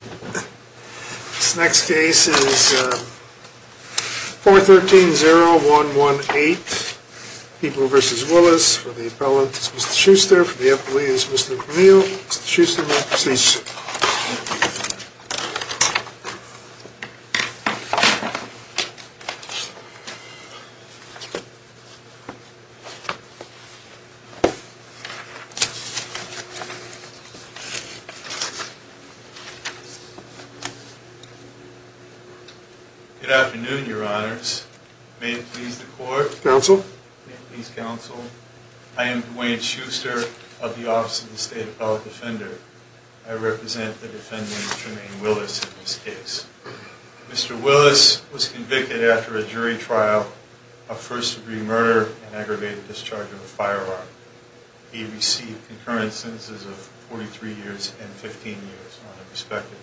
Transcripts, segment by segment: This next case is 413-0118, People v. Willis for the appellant is Mr. Schuster, for the Good afternoon, your honors. May it please the court. May it please counsel. I am Dwayne Schuster of the Office of the State Appellate Defender. I represent the defendant Jermaine Willis in this case. Mr. Willis was convicted after a jury trial of first degree murder and aggravated discharge of a firearm. He received concurrent sentences of 43 years and 15 years on the prospective.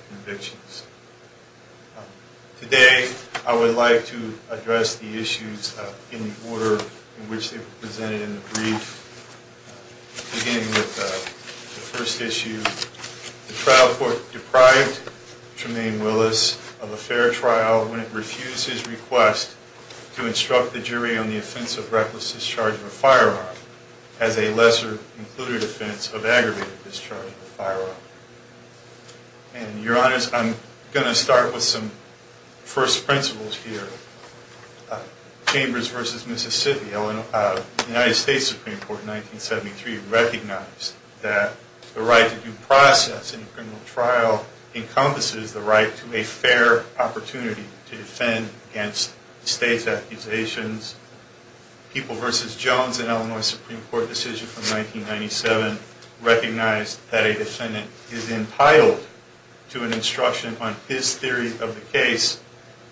Today I would like to address the issues in the order in which they were presented in the brief, beginning with the first issue. The trial court deprived Jermaine Willis of a fair trial when it refused his request to instruct the jury on the offense of reckless discharge of a firearm as a lesser included offense of aggravated discharge of a firearm. And your honors, I'm going to start with some first principles here. Chambers v. Mississippi, United States Supreme Court in 1973 recognized that the right to due process in a criminal trial encompasses the right to a fair opportunity to defend against state's accusations. People v. Jones in Illinois Supreme Court decision from 1997 recognized that a defendant is entitled to an instruction on his theory of the case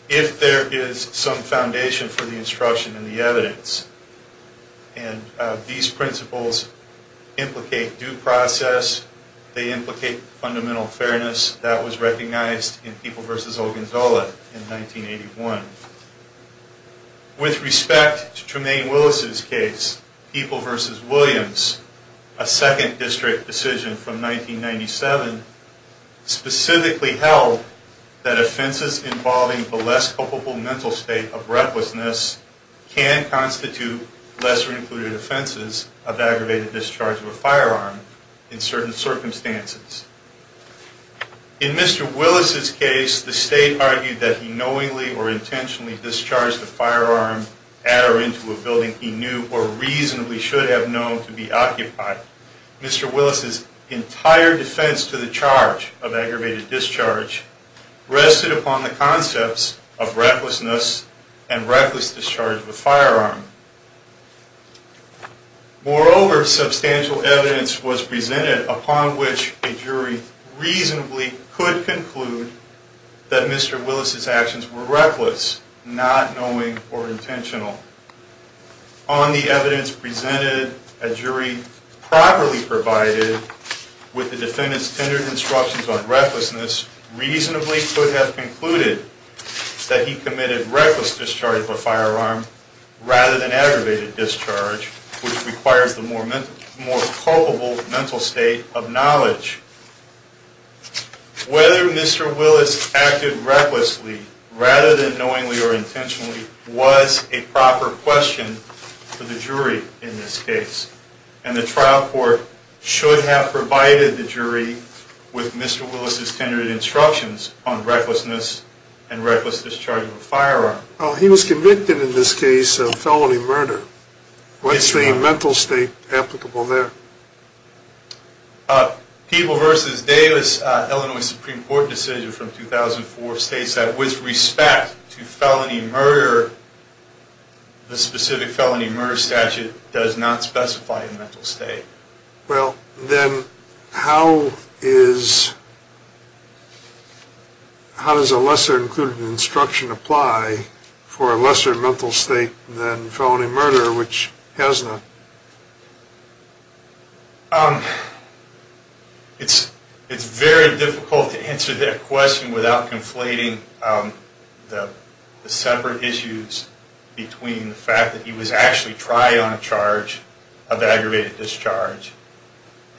if there is some foundation for the instruction and the evidence. And these principles implicate due process. They implicate fundamental fairness. That was recognized in People v. Ogonzola in 1981. With respect to Jermaine Willis' case, People v. Williams, a second district decision from 1997, specifically held that offenses involving the less culpable mental state of recklessness can constitute lesser included offenses of aggravated discharge of a firearm in certain circumstances. In Mr. Willis' case, the state argued that he knowingly or intentionally discharged a firearm at or into a building he knew or reasonably should have known to be occupied. Mr. Willis' entire defense to the charge of aggravated discharge rested upon the concepts of recklessness and reckless discharge of a firearm. Moreover, substantial evidence was presented upon which a jury reasonably could conclude that Mr. Willis' actions were reckless, not knowing or intentional. On the evidence presented, a jury properly provided with the defendant's tendered instructions on recklessness reasonably could have concluded that he committed reckless discharge of a firearm rather than aggravated discharge, which requires the more culpable mental state of knowledge. Whether Mr. Willis acted recklessly rather than knowingly or intentionally was a proper question for the jury in this case, and the trial court should have provided the jury with Mr. Willis' tendered instructions on recklessness and reckless discharge of a firearm. He was convicted in this case of felony murder. What's the mental state applicable there? People v. Davis, Illinois Supreme Court decision from 2004 states that with respect to felony murder, the specific felony murder statute does not specify a mental state. Well, then how does a lesser-included instruction apply for a lesser mental state than felony murder, which has none? It's very difficult to answer that question without conflating the separate issues between the fact that he was actually tried on a charge of aggravated discharge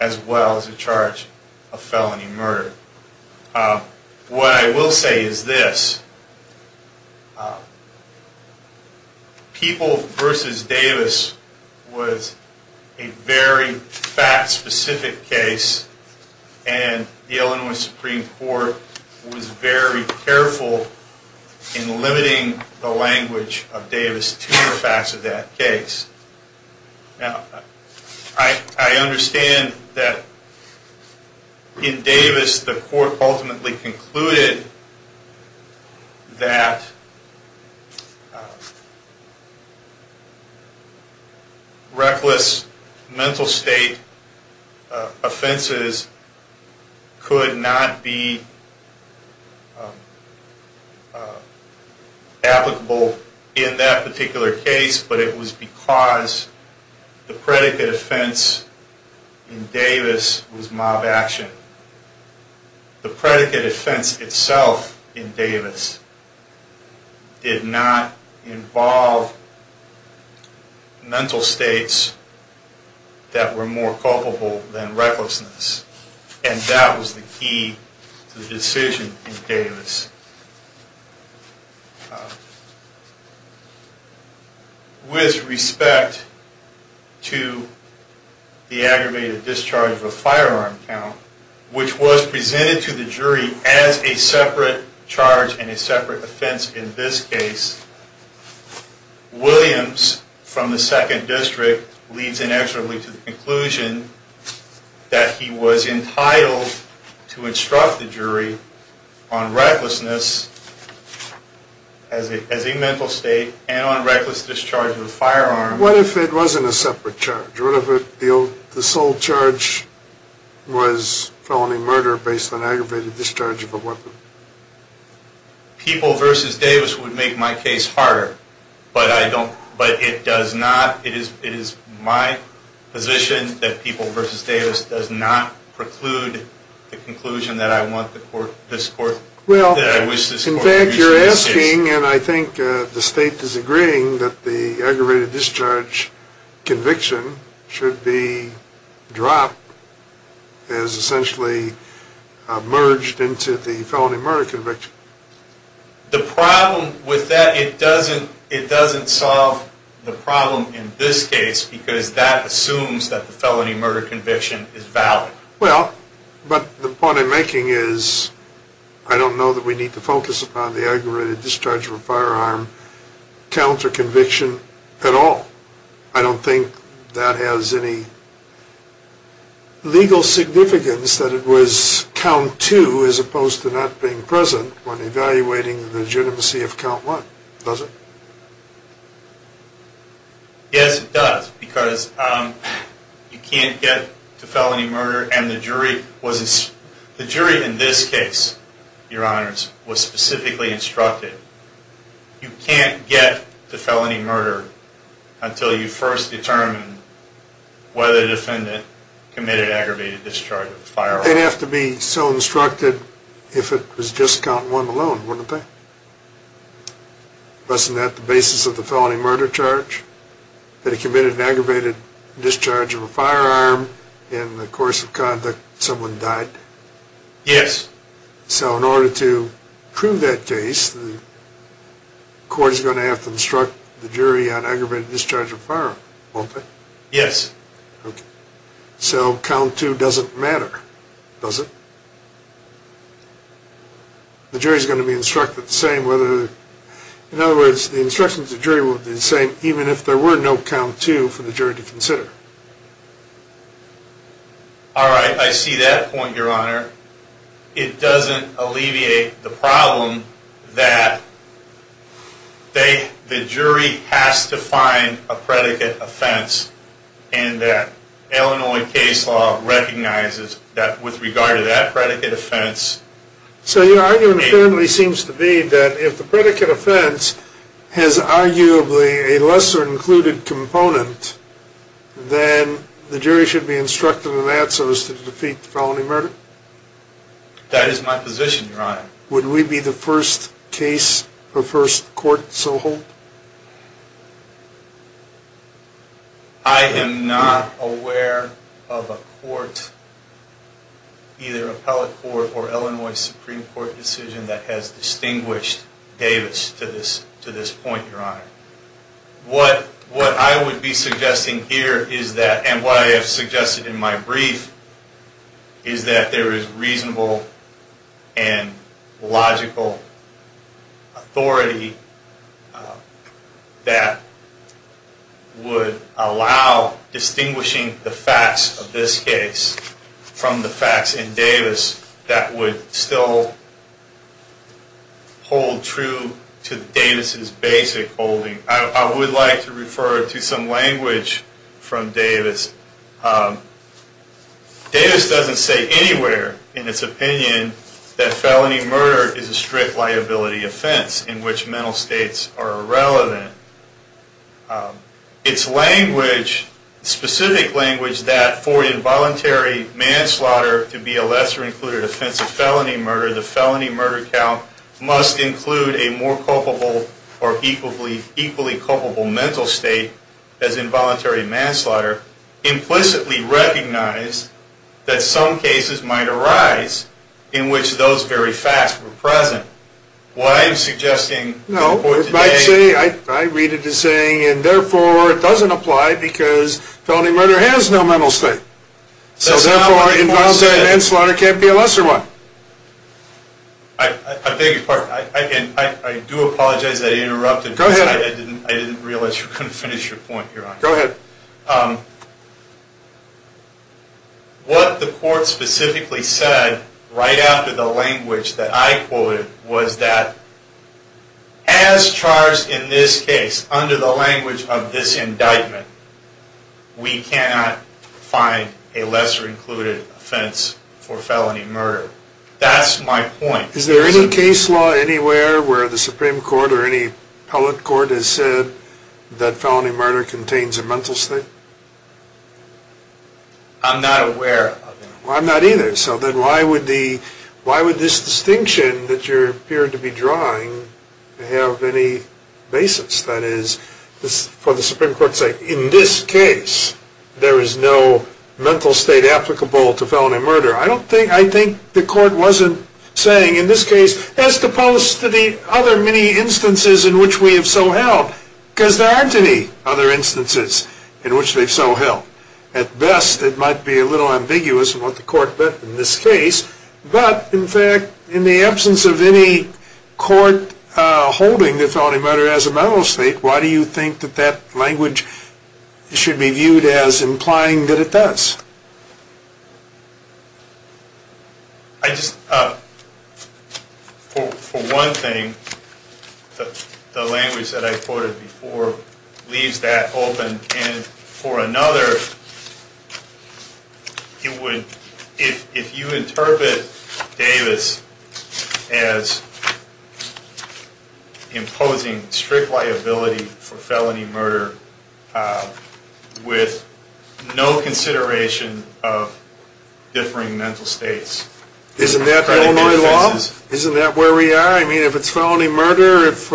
as well as a charge of felony murder. What I will say is this. People v. Davis was a very fact-specific case, and the Illinois Supreme Court was very careful in limiting the language of Davis to the facts of that case. Now, I understand that in Davis, the court ultimately concluded that reckless mental state offenses could not be applicable in that particular case. But it was because the predicate offense in Davis was mob action. The predicate offense itself in Davis did not involve mental states that were more culpable than recklessness. And that was the key to the decision in Davis. With respect to the aggravated discharge of a firearm count, which was presented to the jury as a separate charge and a separate offense in this case, Williams, from the Second District, leads inexorably to the conclusion that he was entitled to instruct the jury on recklessness as a mental state and on reckless discharge of a firearm. What if it wasn't a separate charge? What if the sole charge was felony murder based on aggravated discharge of a weapon? People v. Davis would make my case harder. But it is my position that People v. Davis does not preclude the conclusion that I want this court to produce in this case. I think the state is agreeing that the aggravated discharge conviction should be dropped as essentially merged into the felony murder conviction. The problem with that, it doesn't solve the problem in this case because that assumes that the felony murder conviction is valid. Well, but the point I'm making is I don't know that we need to focus upon the aggravated discharge of a firearm count or conviction at all. I don't think that has any legal significance that it was count two as opposed to not being present when evaluating the legitimacy of count one. Does it? Yes, it does. Because you can't get to felony murder and the jury in this case, your honors, was specifically instructed. You can't get to felony murder until you first determine whether the defendant committed aggravated discharge of a firearm. They'd have to be so instructed if it was just count one alone, wouldn't they? Wasn't that the basis of the felony murder charge? That he committed an aggravated discharge of a firearm and in the course of conduct someone died? Yes. So in order to prove that case, the court is going to have to instruct the jury on aggravated discharge of a firearm, won't they? Yes. Okay. So count two doesn't matter, does it? The jury is going to be instructed the same whether, in other words, the instructions of the jury will be the same even if there were no count two for the jury to consider. All right. I see that point, your honor. It doesn't alleviate the problem that the jury has to find a predicate offense and that Illinois case law recognizes that with regard to that predicate offense. So your argument apparently seems to be that if the predicate offense has arguably a lesser included component, then the jury should be instructed in that so as to defeat the felony murder? That is my position, your honor. Would we be the first case or first court to hold? I am not aware of a court, either appellate court or Illinois Supreme Court decision that has distinguished Davis to this point, your honor. What I would be suggesting here is that, and what I have suggested in my brief, is that there is reasonable and logical authority that would allow distinguishing the facts of this case from the facts in Davis that would still hold true to Davis' basic holdings. I would like to refer to some language from Davis. Davis doesn't say anywhere in its opinion that felony murder is a strict liability offense in which mental states are irrelevant. It's language, specific language, that for involuntary manslaughter to be a lesser included offense of felony murder, the felony murder count must include a more culpable or equally culpable mental state as involuntary manslaughter. Implicitly recognize that some cases might arise in which those very facts were present. I read it as saying, and therefore, it doesn't apply because felony murder has no mental state. So therefore, involuntary manslaughter can't be a lesser one. I beg your pardon. I do apologize that I interrupted. Go ahead. I didn't realize you couldn't finish your point, your honor. Go ahead. What the court specifically said right after the language that I quoted was that as charged in this case under the language of this indictment, we cannot find a lesser included offense for felony murder. That's my point. Is there any case law anywhere where the Supreme Court or any appellate court has said that felony murder contains a mental state? I'm not aware of it. Well, I'm not either. So then why would this distinction that you appear to be drawing have any basis? That is, for the Supreme Court's sake, in this case, there is no mental state applicable to felony murder. I think the court wasn't saying in this case, as opposed to the other many instances in which we have so held, because there aren't any other instances in which they've so held. At best, it might be a little ambiguous in what the court meant in this case. But, in fact, in the absence of any court holding that felony murder has a mental state, why do you think that that language should be viewed as implying that it does? I just, for one thing, the language that I quoted before leaves that open. And for another, if you interpret Davis as imposing strict liability for felony murder with no consideration of differing mental states. Isn't that Illinois law? Isn't that where we are? I mean, if it's felony murder, if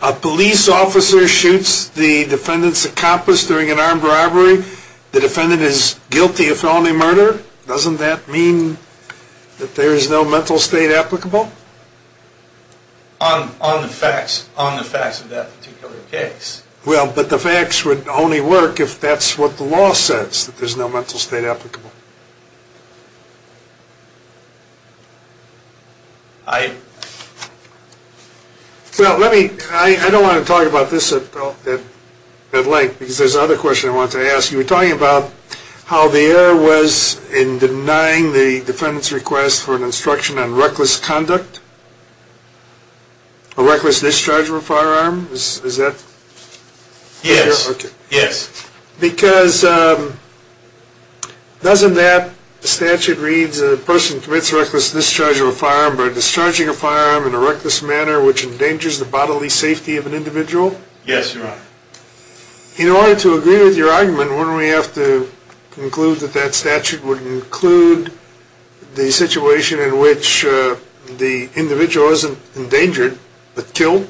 a police officer shoots the defendant's accomplice during an armed robbery, the defendant is guilty of felony murder. Doesn't that mean that there is no mental state applicable? On the facts of that particular case. Well, but the facts would only work if that's what the law says, that there's no mental state applicable. Well, let me, I don't want to talk about this at length, because there's another question I wanted to ask. You were talking about how the error was in denying the defendant's request for an instruction on reckless conduct, a reckless discharge of a firearm. Is that? Yes. Because doesn't that statute read that a person commits a reckless discharge of a firearm by discharging a firearm in a reckless manner which endangers the bodily safety of an individual? In order to agree with your argument, wouldn't we have to conclude that that statute would include the situation in which the individual isn't endangered, but killed?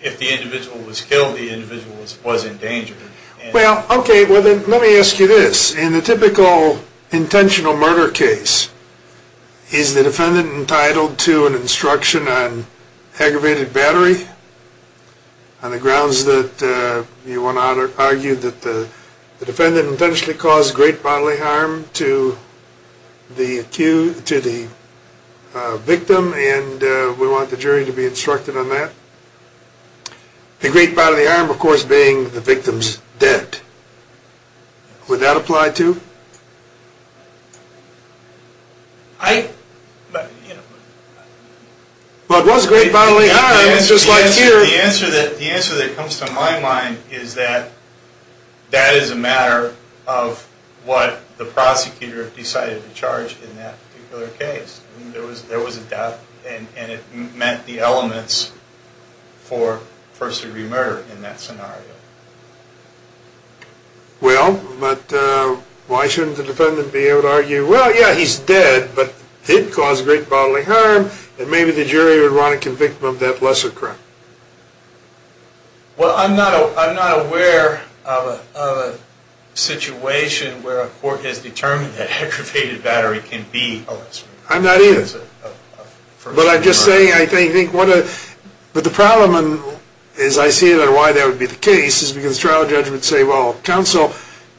If the individual was killed, the individual was endangered. Well, okay, well then let me ask you this. In the typical intentional murder case, is the defendant entitled to an instruction on aggravated battery? On the grounds that you want to argue that the defendant intentionally caused great bodily harm to the victim, and we want the jury to be instructed on that. The great bodily harm, of course, being the victim's death. Would that apply, too? Well, it was great bodily harm, just like here. The answer that comes to my mind is that that is a matter of what the prosecutor decided to charge in that particular case. There was a death, and it meant the elements for first-degree murder in that scenario. Well, but why shouldn't the defendant be able to argue, well, yeah, he's dead, but he caused great bodily harm, and maybe the jury would want to convict him of that lesser crime. Well, I'm not aware of a situation where a court has determined that aggravated battery can be a lesser crime. I'm not either. But I'm just saying, I think, but the problem, as I see it, and why that would be the case, is because trial judges would say, well, counsel,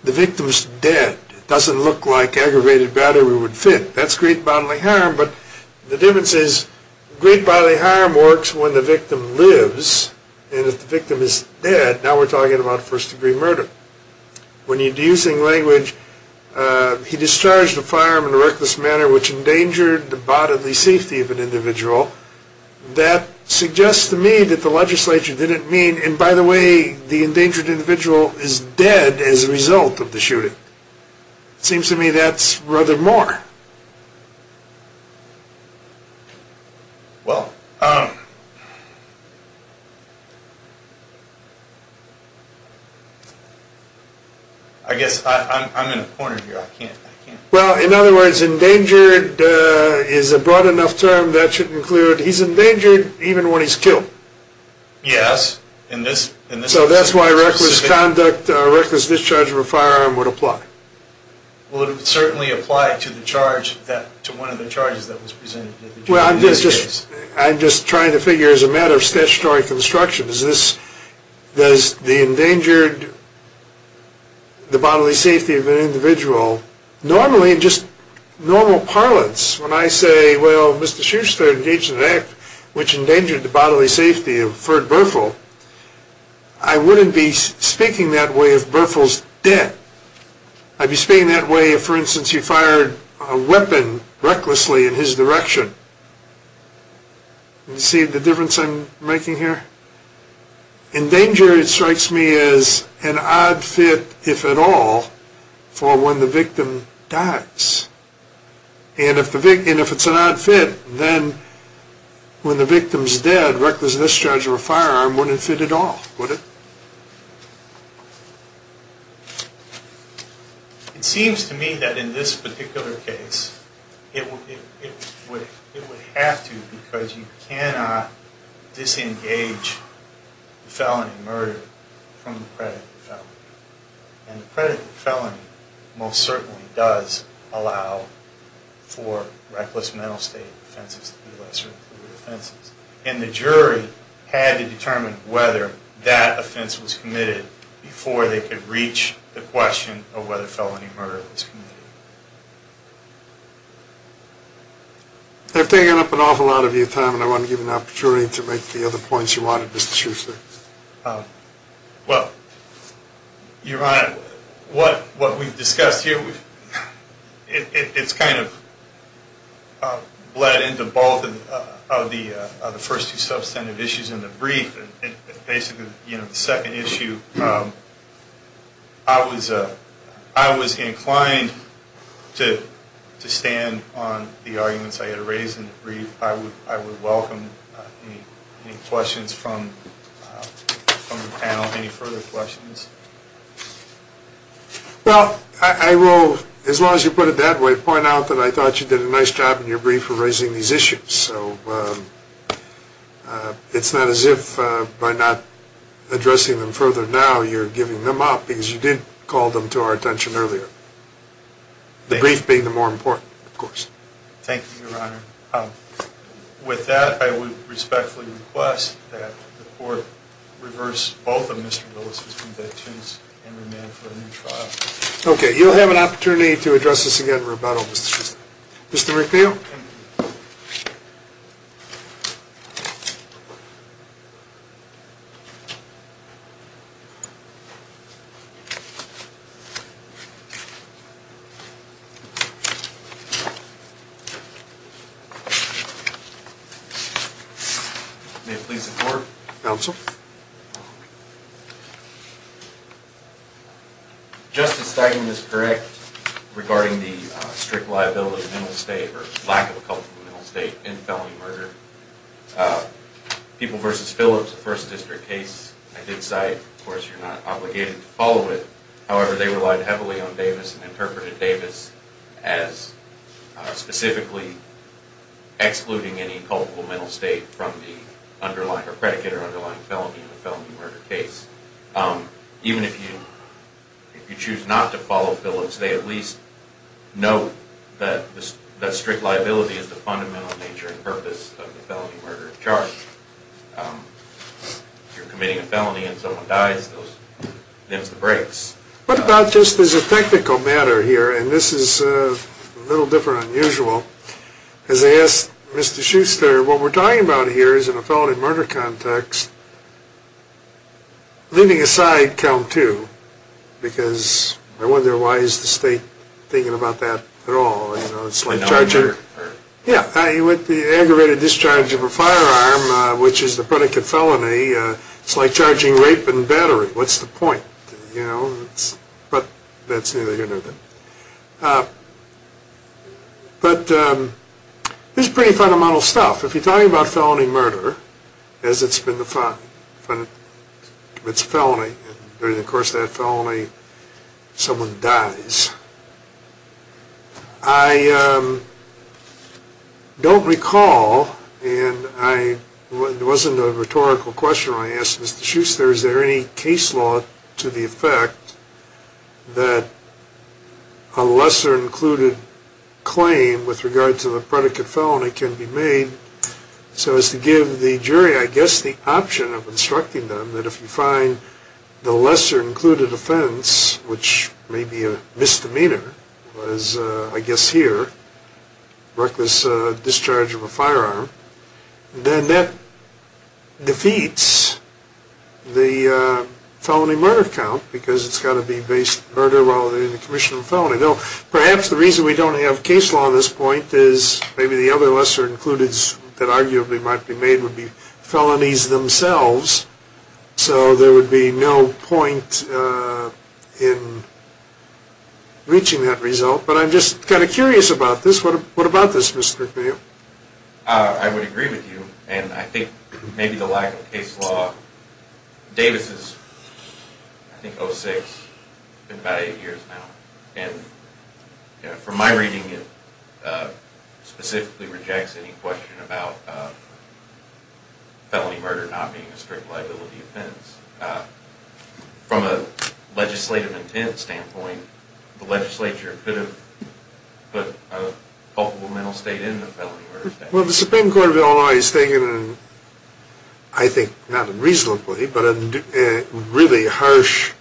the victim's dead. It doesn't look like aggravated battery would fit. That's great bodily harm, but the difference is great bodily harm works when the victim lives, and if the victim is dead, now we're talking about first-degree murder. When you're using language, he discharged a firearm in a reckless manner which endangered the bodily safety of an individual. That suggests to me that the legislature didn't mean, and by the way, the endangered individual is dead as a result of the shooting. It seems to me that's rather more. Well, I guess I'm in a corner here, I can't. Well, in other words, endangered is a broad enough term that should include he's endangered even when he's killed. Yes. So that's why reckless conduct, reckless discharge of a firearm would apply. Well, I'm just trying to figure, as a matter of statutory construction, does the endangered, the bodily safety of an individual, normally, just normal parlance, when I say, well, Mr. Schuster engaged in an act which endangered the bodily safety of Ferd Burfill, I wouldn't be speaking that way of Burfill's death. I'd be speaking that way if, for instance, he fired a weapon recklessly in his direction. You see the difference I'm making here? Endangered strikes me as an odd fit, if at all, for when the victim dies. And if it's an odd fit, then when the victim's dead, reckless discharge of a firearm wouldn't fit at all, would it? It seems to me that in this particular case, it would have to, because you cannot disengage the felony murder from the predatory felony. And the predatory felony most certainly does allow for reckless mental state offenses to be lesser included offenses. And the jury had to determine whether that offense was committed before they could reach the question of whether felony murder was committed. I've taken up an awful lot of your time, and I want to give an opportunity to make the other points you wanted, Mr. Schuster. Well, Your Honor, what we've discussed here, it's kind of bled into both of the first two substantive issues in the brief. Basically, the second issue, I was inclined to stand on the arguments I had raised in the brief. I would welcome any questions from the panel. Any further questions? Well, I will, as long as you put it that way, point out that I thought you did a nice job in your brief for raising these issues. It's not as if by not addressing them further now, you're giving them up, because you did call them to our attention earlier. The brief being the more important, of course. Thank you, Your Honor. With that, I would respectfully request that the Court reverse both of Mr. Willis' convictions and remand for a new trial. Okay, you'll have an opportunity to address this again in rebuttal, Mr. Schuster. Mr. McNeil? May it please the Court? Counsel? Justice Steinem is correct regarding the strict liability of mental state, or lack of a culpable mental state, in felony murder. People v. Phillips, the First District case, I did cite. Of course, you're not obligated to follow it. However, they relied heavily on Davis and interpreted Davis as specifically excluding any culpable mental state from the predicate or underlying felony in a felony murder case. Even if you choose not to follow Phillips, they at least note that strict liability is the fundamental nature and purpose of the felony murder charge. If you're committing a felony and someone dies, it limits the breaks. What about just as a technical matter here, and this is a little different than usual, as I asked Mr. Schuster, what we're talking about here is in a felony murder context, leaving aside count two, because I wonder why is the state thinking about that at all? Yeah, with the aggravated discharge of a firearm, which is the predicate felony, it's like charging rape and battery. What's the point? But this is pretty fundamental stuff. If you're talking about felony murder, as it's been defined, it's a felony, and during the course of that felony, someone dies. I don't recall, and it wasn't a rhetorical question when I asked Mr. Schuster, is there any case law to the effect that a lesser included claim with regard to the predicate felony can be made, so as to give the jury, I guess, the option of instructing them that if you find the lesser included offense, which may be a misdemeanor, as I guess here, reckless discharge of a firearm, then that defeats the felony murder count, because it's got to be based on murder while they're in a commission of felony. Perhaps the reason we don't have case law at this point is maybe the other lesser included that arguably might be made would be felonies themselves, so there would be no point in reaching that result, but I'm just kind of curious about this. What about this, Mr. McNeil? I would agree with you, and I think maybe the lack of case law, Davis is, I think, 06, it's been about 8 years now, and from my reading, it specifically rejects any question about felony murder not being a strict liability offense. From a legislative intent standpoint, the legislature could have put a culpable mental state into the felony murder statute. Well, the Supreme Court of Illinois has taken a, I think, not reasonably, but a really harsh,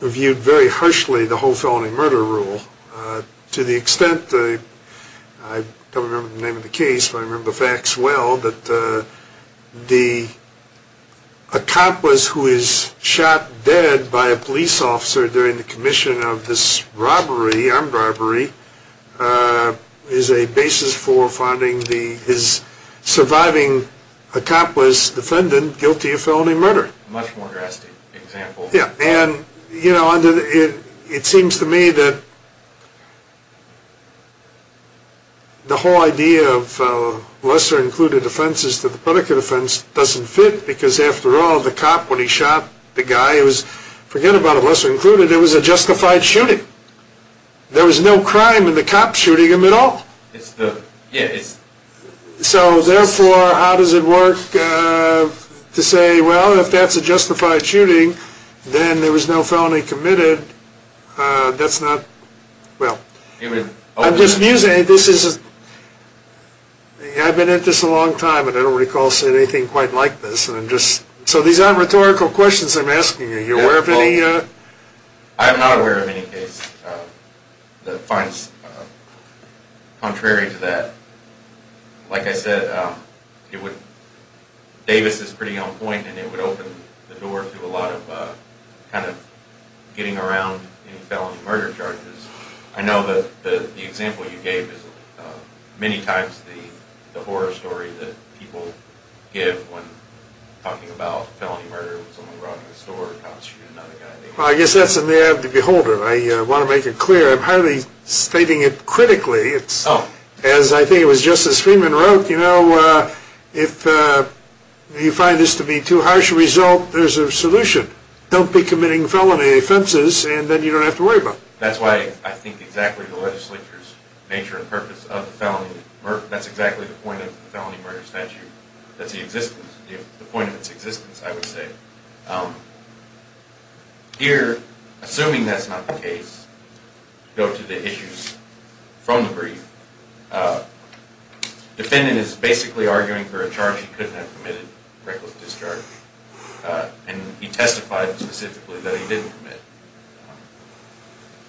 reviewed very harshly the whole felony murder rule. To the extent, I don't remember the name of the case, but I remember facts well, that the accomplice who is shot dead by a police officer during the commission of this robbery, armed robbery, is a basis for finding his surviving accomplice defendant guilty of felony murder. Much more drastic example. Yeah, and you know, it seems to me that the whole idea of lesser included offenses to the predicate offense doesn't fit, because after all, the cop, when he shot the guy, forget about lesser included, it was a justified shooting. There was no crime in the cop shooting him at all. So therefore, how does it work to say, well, if that's a justified shooting, then there was no felony committed. That's not, well, I've been at this a long time, and I don't recall seeing anything quite like this. So these aren't rhetorical questions I'm asking you. I'm not aware of any case that finds contrary to that. Like I said, Davis is pretty on point, and it would open the door to a lot of kind of getting around any felony murder charges. I know that the example you gave is many times the horror story that people give when talking about felony murder Well, I guess that's in the eye of the beholder. I want to make it clear. I'm hardly stating it critically. As I think it was Justice Freeman wrote, you know, if you find this to be too harsh a result, there's a solution. Don't be committing felony offenses, and then you don't have to worry about it. That's why I think exactly the legislature's nature and purpose of the felony murder statute, that's exactly the point of the felony murder statute. That's the existence, the point of its existence, I would say. Here, assuming that's not the case, go to the issues from the brief. Defendant is basically arguing for a charge he couldn't have committed, reckless discharge, and he testified specifically that he didn't commit.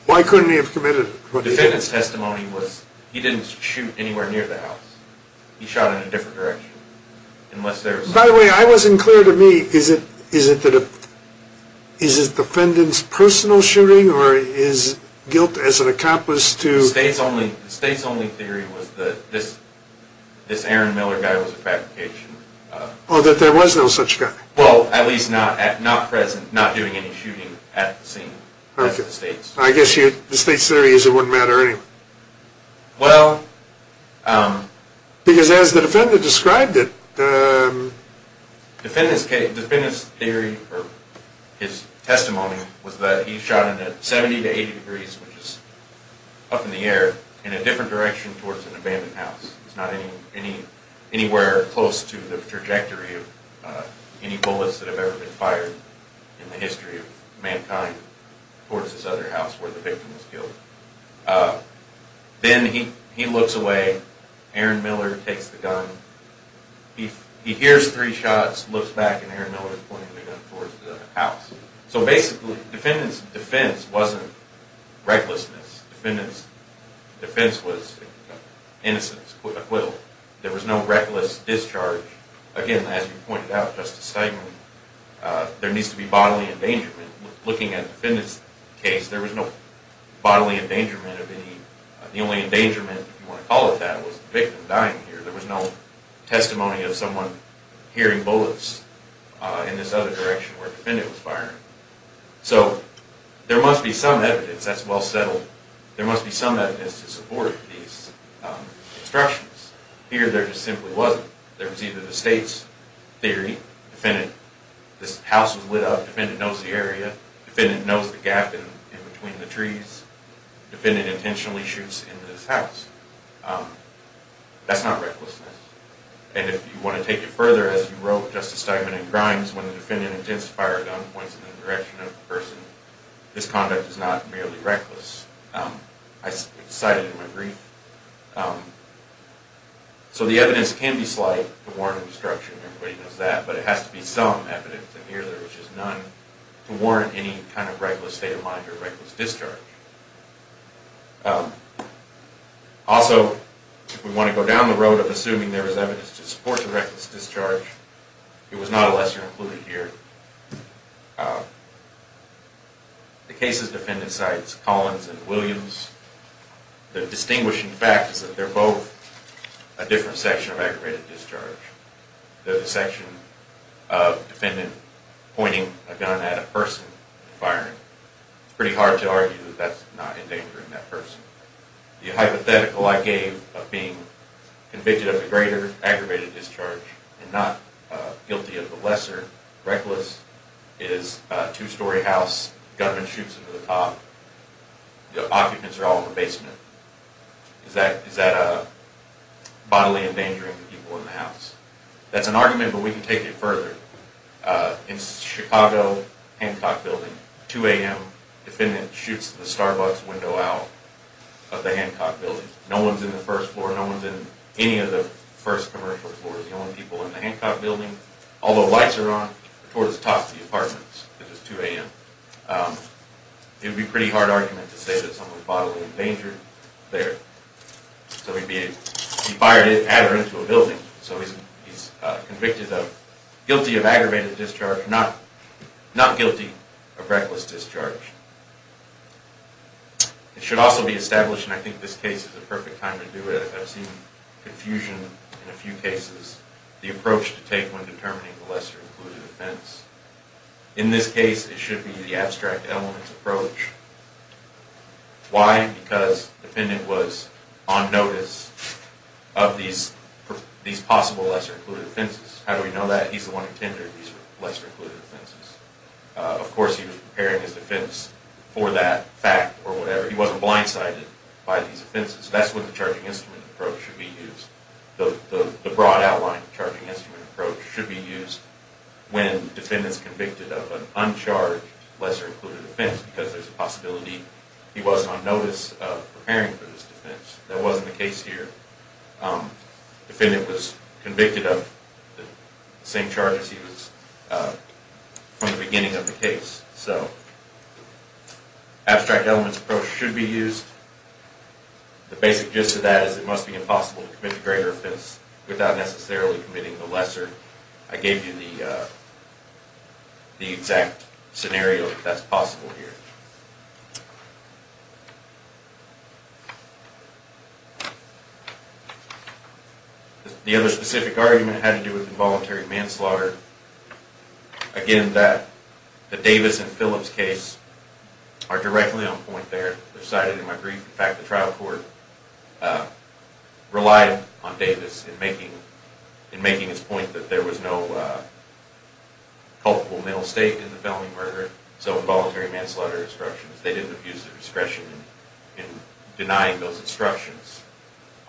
Why couldn't he have committed reckless discharge? The defendant's testimony was he didn't shoot anywhere near the house. He shot in a different direction. By the way, I wasn't clear to me, is it defendant's personal shooting or his guilt as an accomplice to The state's only theory was that this Aaron Miller guy was a fabrication. Oh, that there was no such guy. Well, at least not present, not doing any shooting at the scene. I guess the state's theory is it wouldn't matter anyway. Well... Because as the defendant described it... Defendant's theory or his testimony was that he shot in a 70 to 80 degrees, which is up in the air, in a different direction towards an abandoned house. It's not anywhere close to the trajectory of any bullets that have ever been fired in the history of mankind towards this other house where the victim was killed. Then he looks away. Aaron Miller takes the gun. He hears three shots, looks back, and Aaron Miller is pointing the gun towards the house. So basically, defendant's defense wasn't recklessness. Defendant's defense was innocence, acquittal. There was no reckless discharge. Again, as you pointed out, Justice Steinman, there needs to be bodily endangerment. Looking at the defendant's case, there was no bodily endangerment of any... The only endangerment, if you want to call it that, was the victim dying here. There was no testimony of someone hearing bullets in this other direction where the defendant was firing. So there must be some evidence that's well settled. There must be some evidence to support these instructions. Here, there just simply wasn't. There was either the state's theory, defendant... This house was lit up. Defendant knows the area. Defendant knows the gap in between the trees. Defendant intentionally shoots into this house. That's not recklessness. And if you want to take it further, as you wrote, Justice Steinman, in Grimes, when the defendant intends to fire a gun, points it in the direction of the person. This conduct is not merely reckless. I cite it in my brief. So the evidence can be slight to warrant obstruction. Everybody knows that. But it has to be some evidence. And here, there was just none to warrant any kind of reckless state of mind or reckless discharge. Also, if we want to go down the road of assuming there is evidence to support the reckless discharge, it was not a lesser included here. The case's defendant cites Collins and Williams. The distinguishing fact is that they're both a different section of aggravated discharge. The section of defendant pointing a gun at a person and firing. It's pretty hard to argue that that's not endangering that person. The hypothetical I gave of being convicted of a greater aggravated discharge and not guilty of a lesser reckless is a two-story house. A gunman shoots into the top. The occupants are all in the basement. Is that bodily endangering the people in the house? That's an argument, but we can take it further. In Chicago, Hancock building, 2 a.m., defendant shoots the Starbucks window out of the Hancock building. No one's in the first floor. No one's in any of the first commercial floors. The only people in the Hancock building, although lights are on, are towards the top of the apartments. It was 2 a.m. It would be a pretty hard argument to say that someone was bodily endangered there. So he fired it and added it into a building. So he's convicted of guilty of aggravated discharge, not guilty of reckless discharge. It should also be established, and I think this case is the perfect time to do it, I've seen confusion in a few cases, the approach to take when determining the lesser-included offense. In this case, it should be the abstract elements approach. Why? Because the defendant was on notice of these possible lesser-included offenses. How do we know that? He's the one who intended these lesser-included offenses. Of course, he was preparing his defense for that fact or whatever. He wasn't blindsided by these offenses. That's when the charging instrument approach should be used. The broad outline of the charging instrument approach should be used when the defendant is convicted of an uncharged lesser-included offense because there's a possibility he wasn't on notice of preparing for this defense. That wasn't the case here. The defendant was convicted of the same charges he was from the beginning of the case. So abstract elements approach should be used. The basic gist of that is it must be impossible to commit a greater offense without necessarily committing a lesser. I gave you the exact scenario that that's possible here. The other specific argument had to do with involuntary manslaughter. Again, the Davis and Phillips case are directly on point there. They're cited in my brief. In fact, the trial court relied on Davis in making his point that there was no culpable mental state in the felony murder, so involuntary manslaughter instructions. They didn't abuse their discretion in denying those instructions.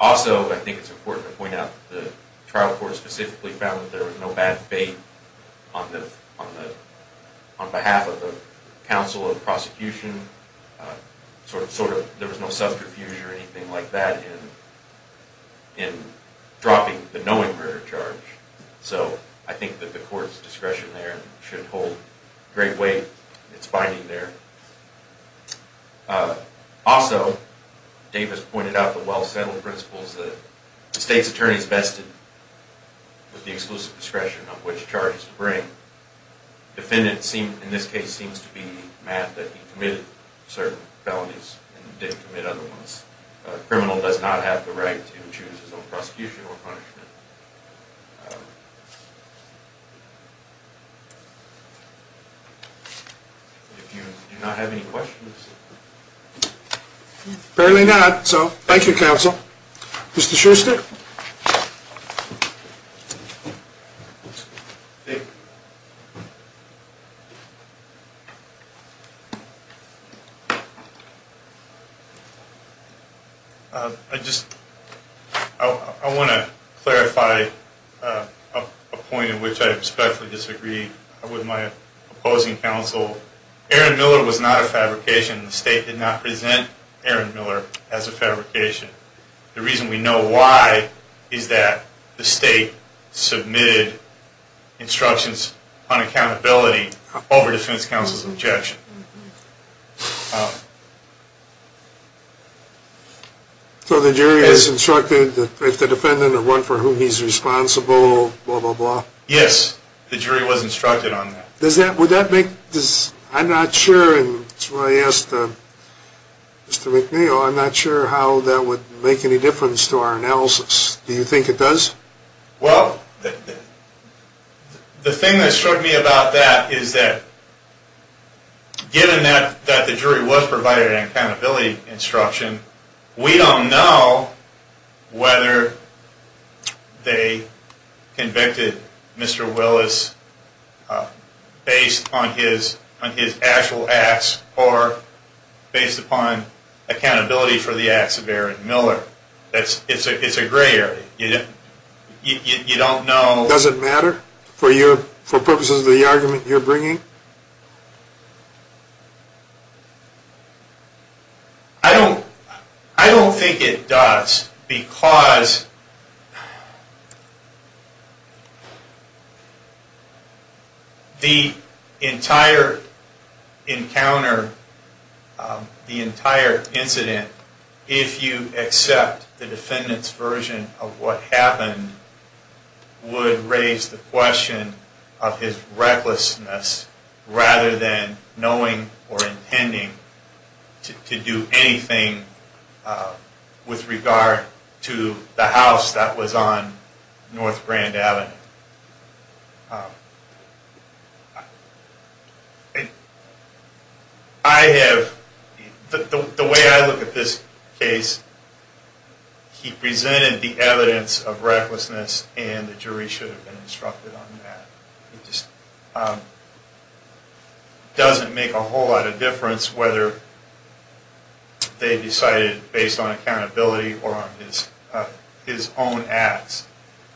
Also, I think it's important to point out that the trial court specifically found that there was no bad fate on behalf of the counsel of the prosecution. There was no subterfuge or anything like that in dropping the knowing murder charge. So I think that the court's discretion there should hold great weight. It's binding there. Also, Davis pointed out the well-settled principles that the state's attorneys vested The defendant, in this case, seems to be mad that he committed certain felonies and didn't commit other ones. A criminal does not have the right to choose his own prosecution or punishment. Do you not have any questions? Apparently not, so thank you, counsel. Mr. Schuster? Thank you. I want to clarify a point in which I respectfully disagree with my opposing counsel. Aaron Miller was not a fabrication. The state did not present Aaron Miller as a fabrication. The reason we know why is that the state submitted instructions on accountability over defense counsel's objection. So the jury has instructed that if the defendant will run for who he's responsible, blah, blah, blah. Yes, the jury was instructed on that. I'm not sure, and that's why I asked Mr. McNeil, I'm not sure how that would make any difference to our analysis. Do you think it does? Well, the thing that struck me about that is that, given that the jury was provided an accountability instruction, we don't know whether they convicted Mr. Willis based on his actual acts or based upon accountability for the acts of Aaron Miller. It's a gray area. You don't know. Does it matter for purposes of the argument you're bringing? I don't think it does because the entire encounter, the entire incident, if you accept the defendant's version of what happened, would raise the question of his recklessness rather than knowing or intending to do anything with regard to the house that was on North Grand Avenue. The way I look at this case, he presented the evidence of recklessness and the jury should have been instructed on that. It just doesn't make a whole lot of difference whether they decided based on accountability or on his own acts.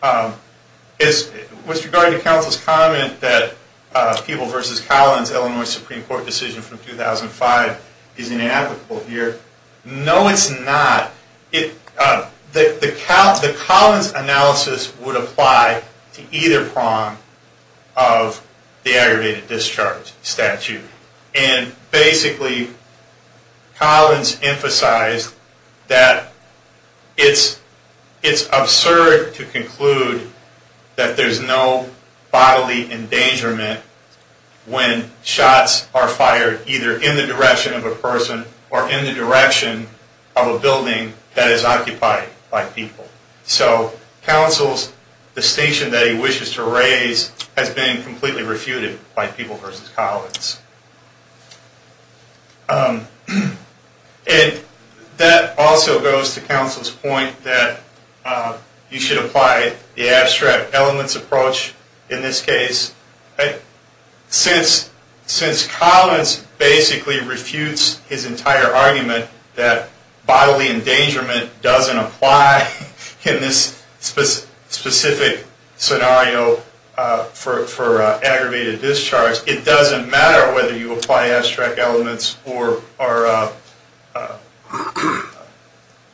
With regard to counsel's comment that People v. Collins' Illinois Supreme Court decision from 2005 is inapplicable here, no it's not. The Collins analysis would apply to either prong of the aggravated discharge statute. Basically, Collins emphasized that it's absurd to conclude that there's no bodily endangerment when shots are fired either in the direction of a person or in the direction of a building that is occupied by people. Counsel's distinction that he wishes to raise has been completely refuted by People v. Collins. That also goes to counsel's point that you should apply the abstract elements approach in this case. Since Collins basically refutes his entire argument that bodily endangerment doesn't apply in this specific scenario for aggravated discharge, it doesn't matter whether you apply abstract elements or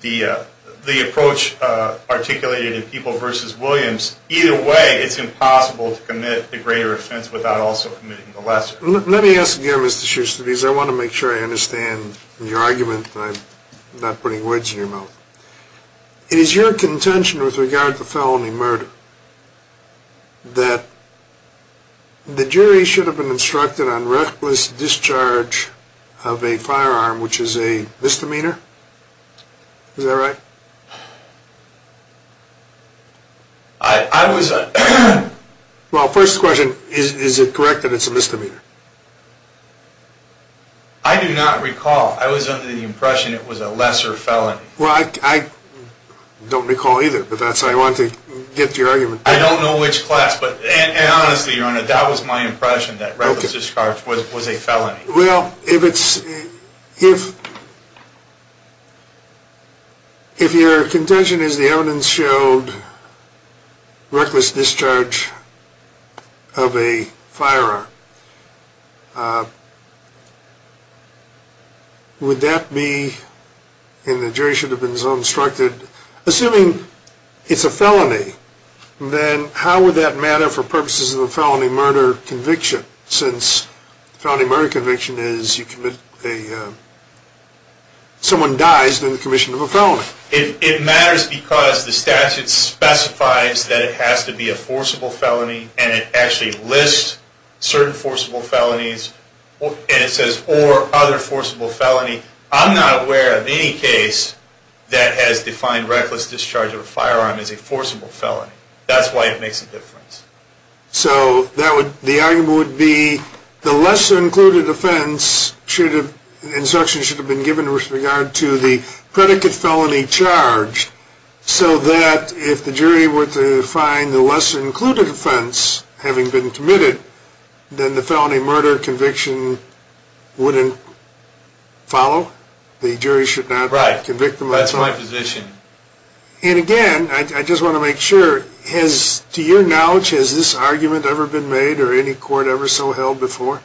the approach articulated in People v. Williams. Either way, it's impossible to commit a greater offense without also committing a lesser. Let me ask again, Mr. Schuster, because I want to make sure I understand your argument. I'm not putting words in your mouth. It is your contention with regard to felony murder that the jury should have been instructed on reckless discharge of a firearm, which is a misdemeanor. Is that right? Well, first question, is it correct that it's a misdemeanor? I do not recall. I was under the impression it was a lesser felony. Well, I don't recall either, but that's how I wanted to get to your argument. I don't know which class, and honestly, Your Honor, that was my impression that reckless discharge was a felony. Well, if your contention is the evidence showed reckless discharge of a firearm, would that be, and the jury should have been so instructed, assuming it's a felony, then how would that matter for purposes of the felony murder conviction, since the felony murder conviction is someone dies in the commission of a felony? It matters because the statute specifies that it has to be a forcible felony, and it actually lists certain forcible felonies, and it says, or other forcible felony. I'm not aware of any case that has defined reckless discharge of a firearm as a forcible felony. That's why it makes a difference. So the argument would be the lesser included offense should have, an instruction should have been given with regard to the predicate felony charge, so that if the jury were to find the lesser included offense having been committed, then the felony murder conviction wouldn't follow? The jury should not convict them? Right, that's my position. And again, I just want to make sure, to your knowledge, has this argument ever been made or any court ever so held before?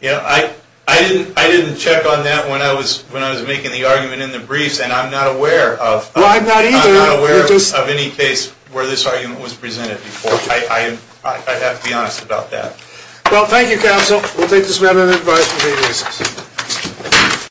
Yeah, I didn't check on that when I was making the argument in the briefs, and I'm not aware of any case where this argument was presented before. I have to be honest about that. Well, thank you, counsel. We'll take this matter and advise for three days.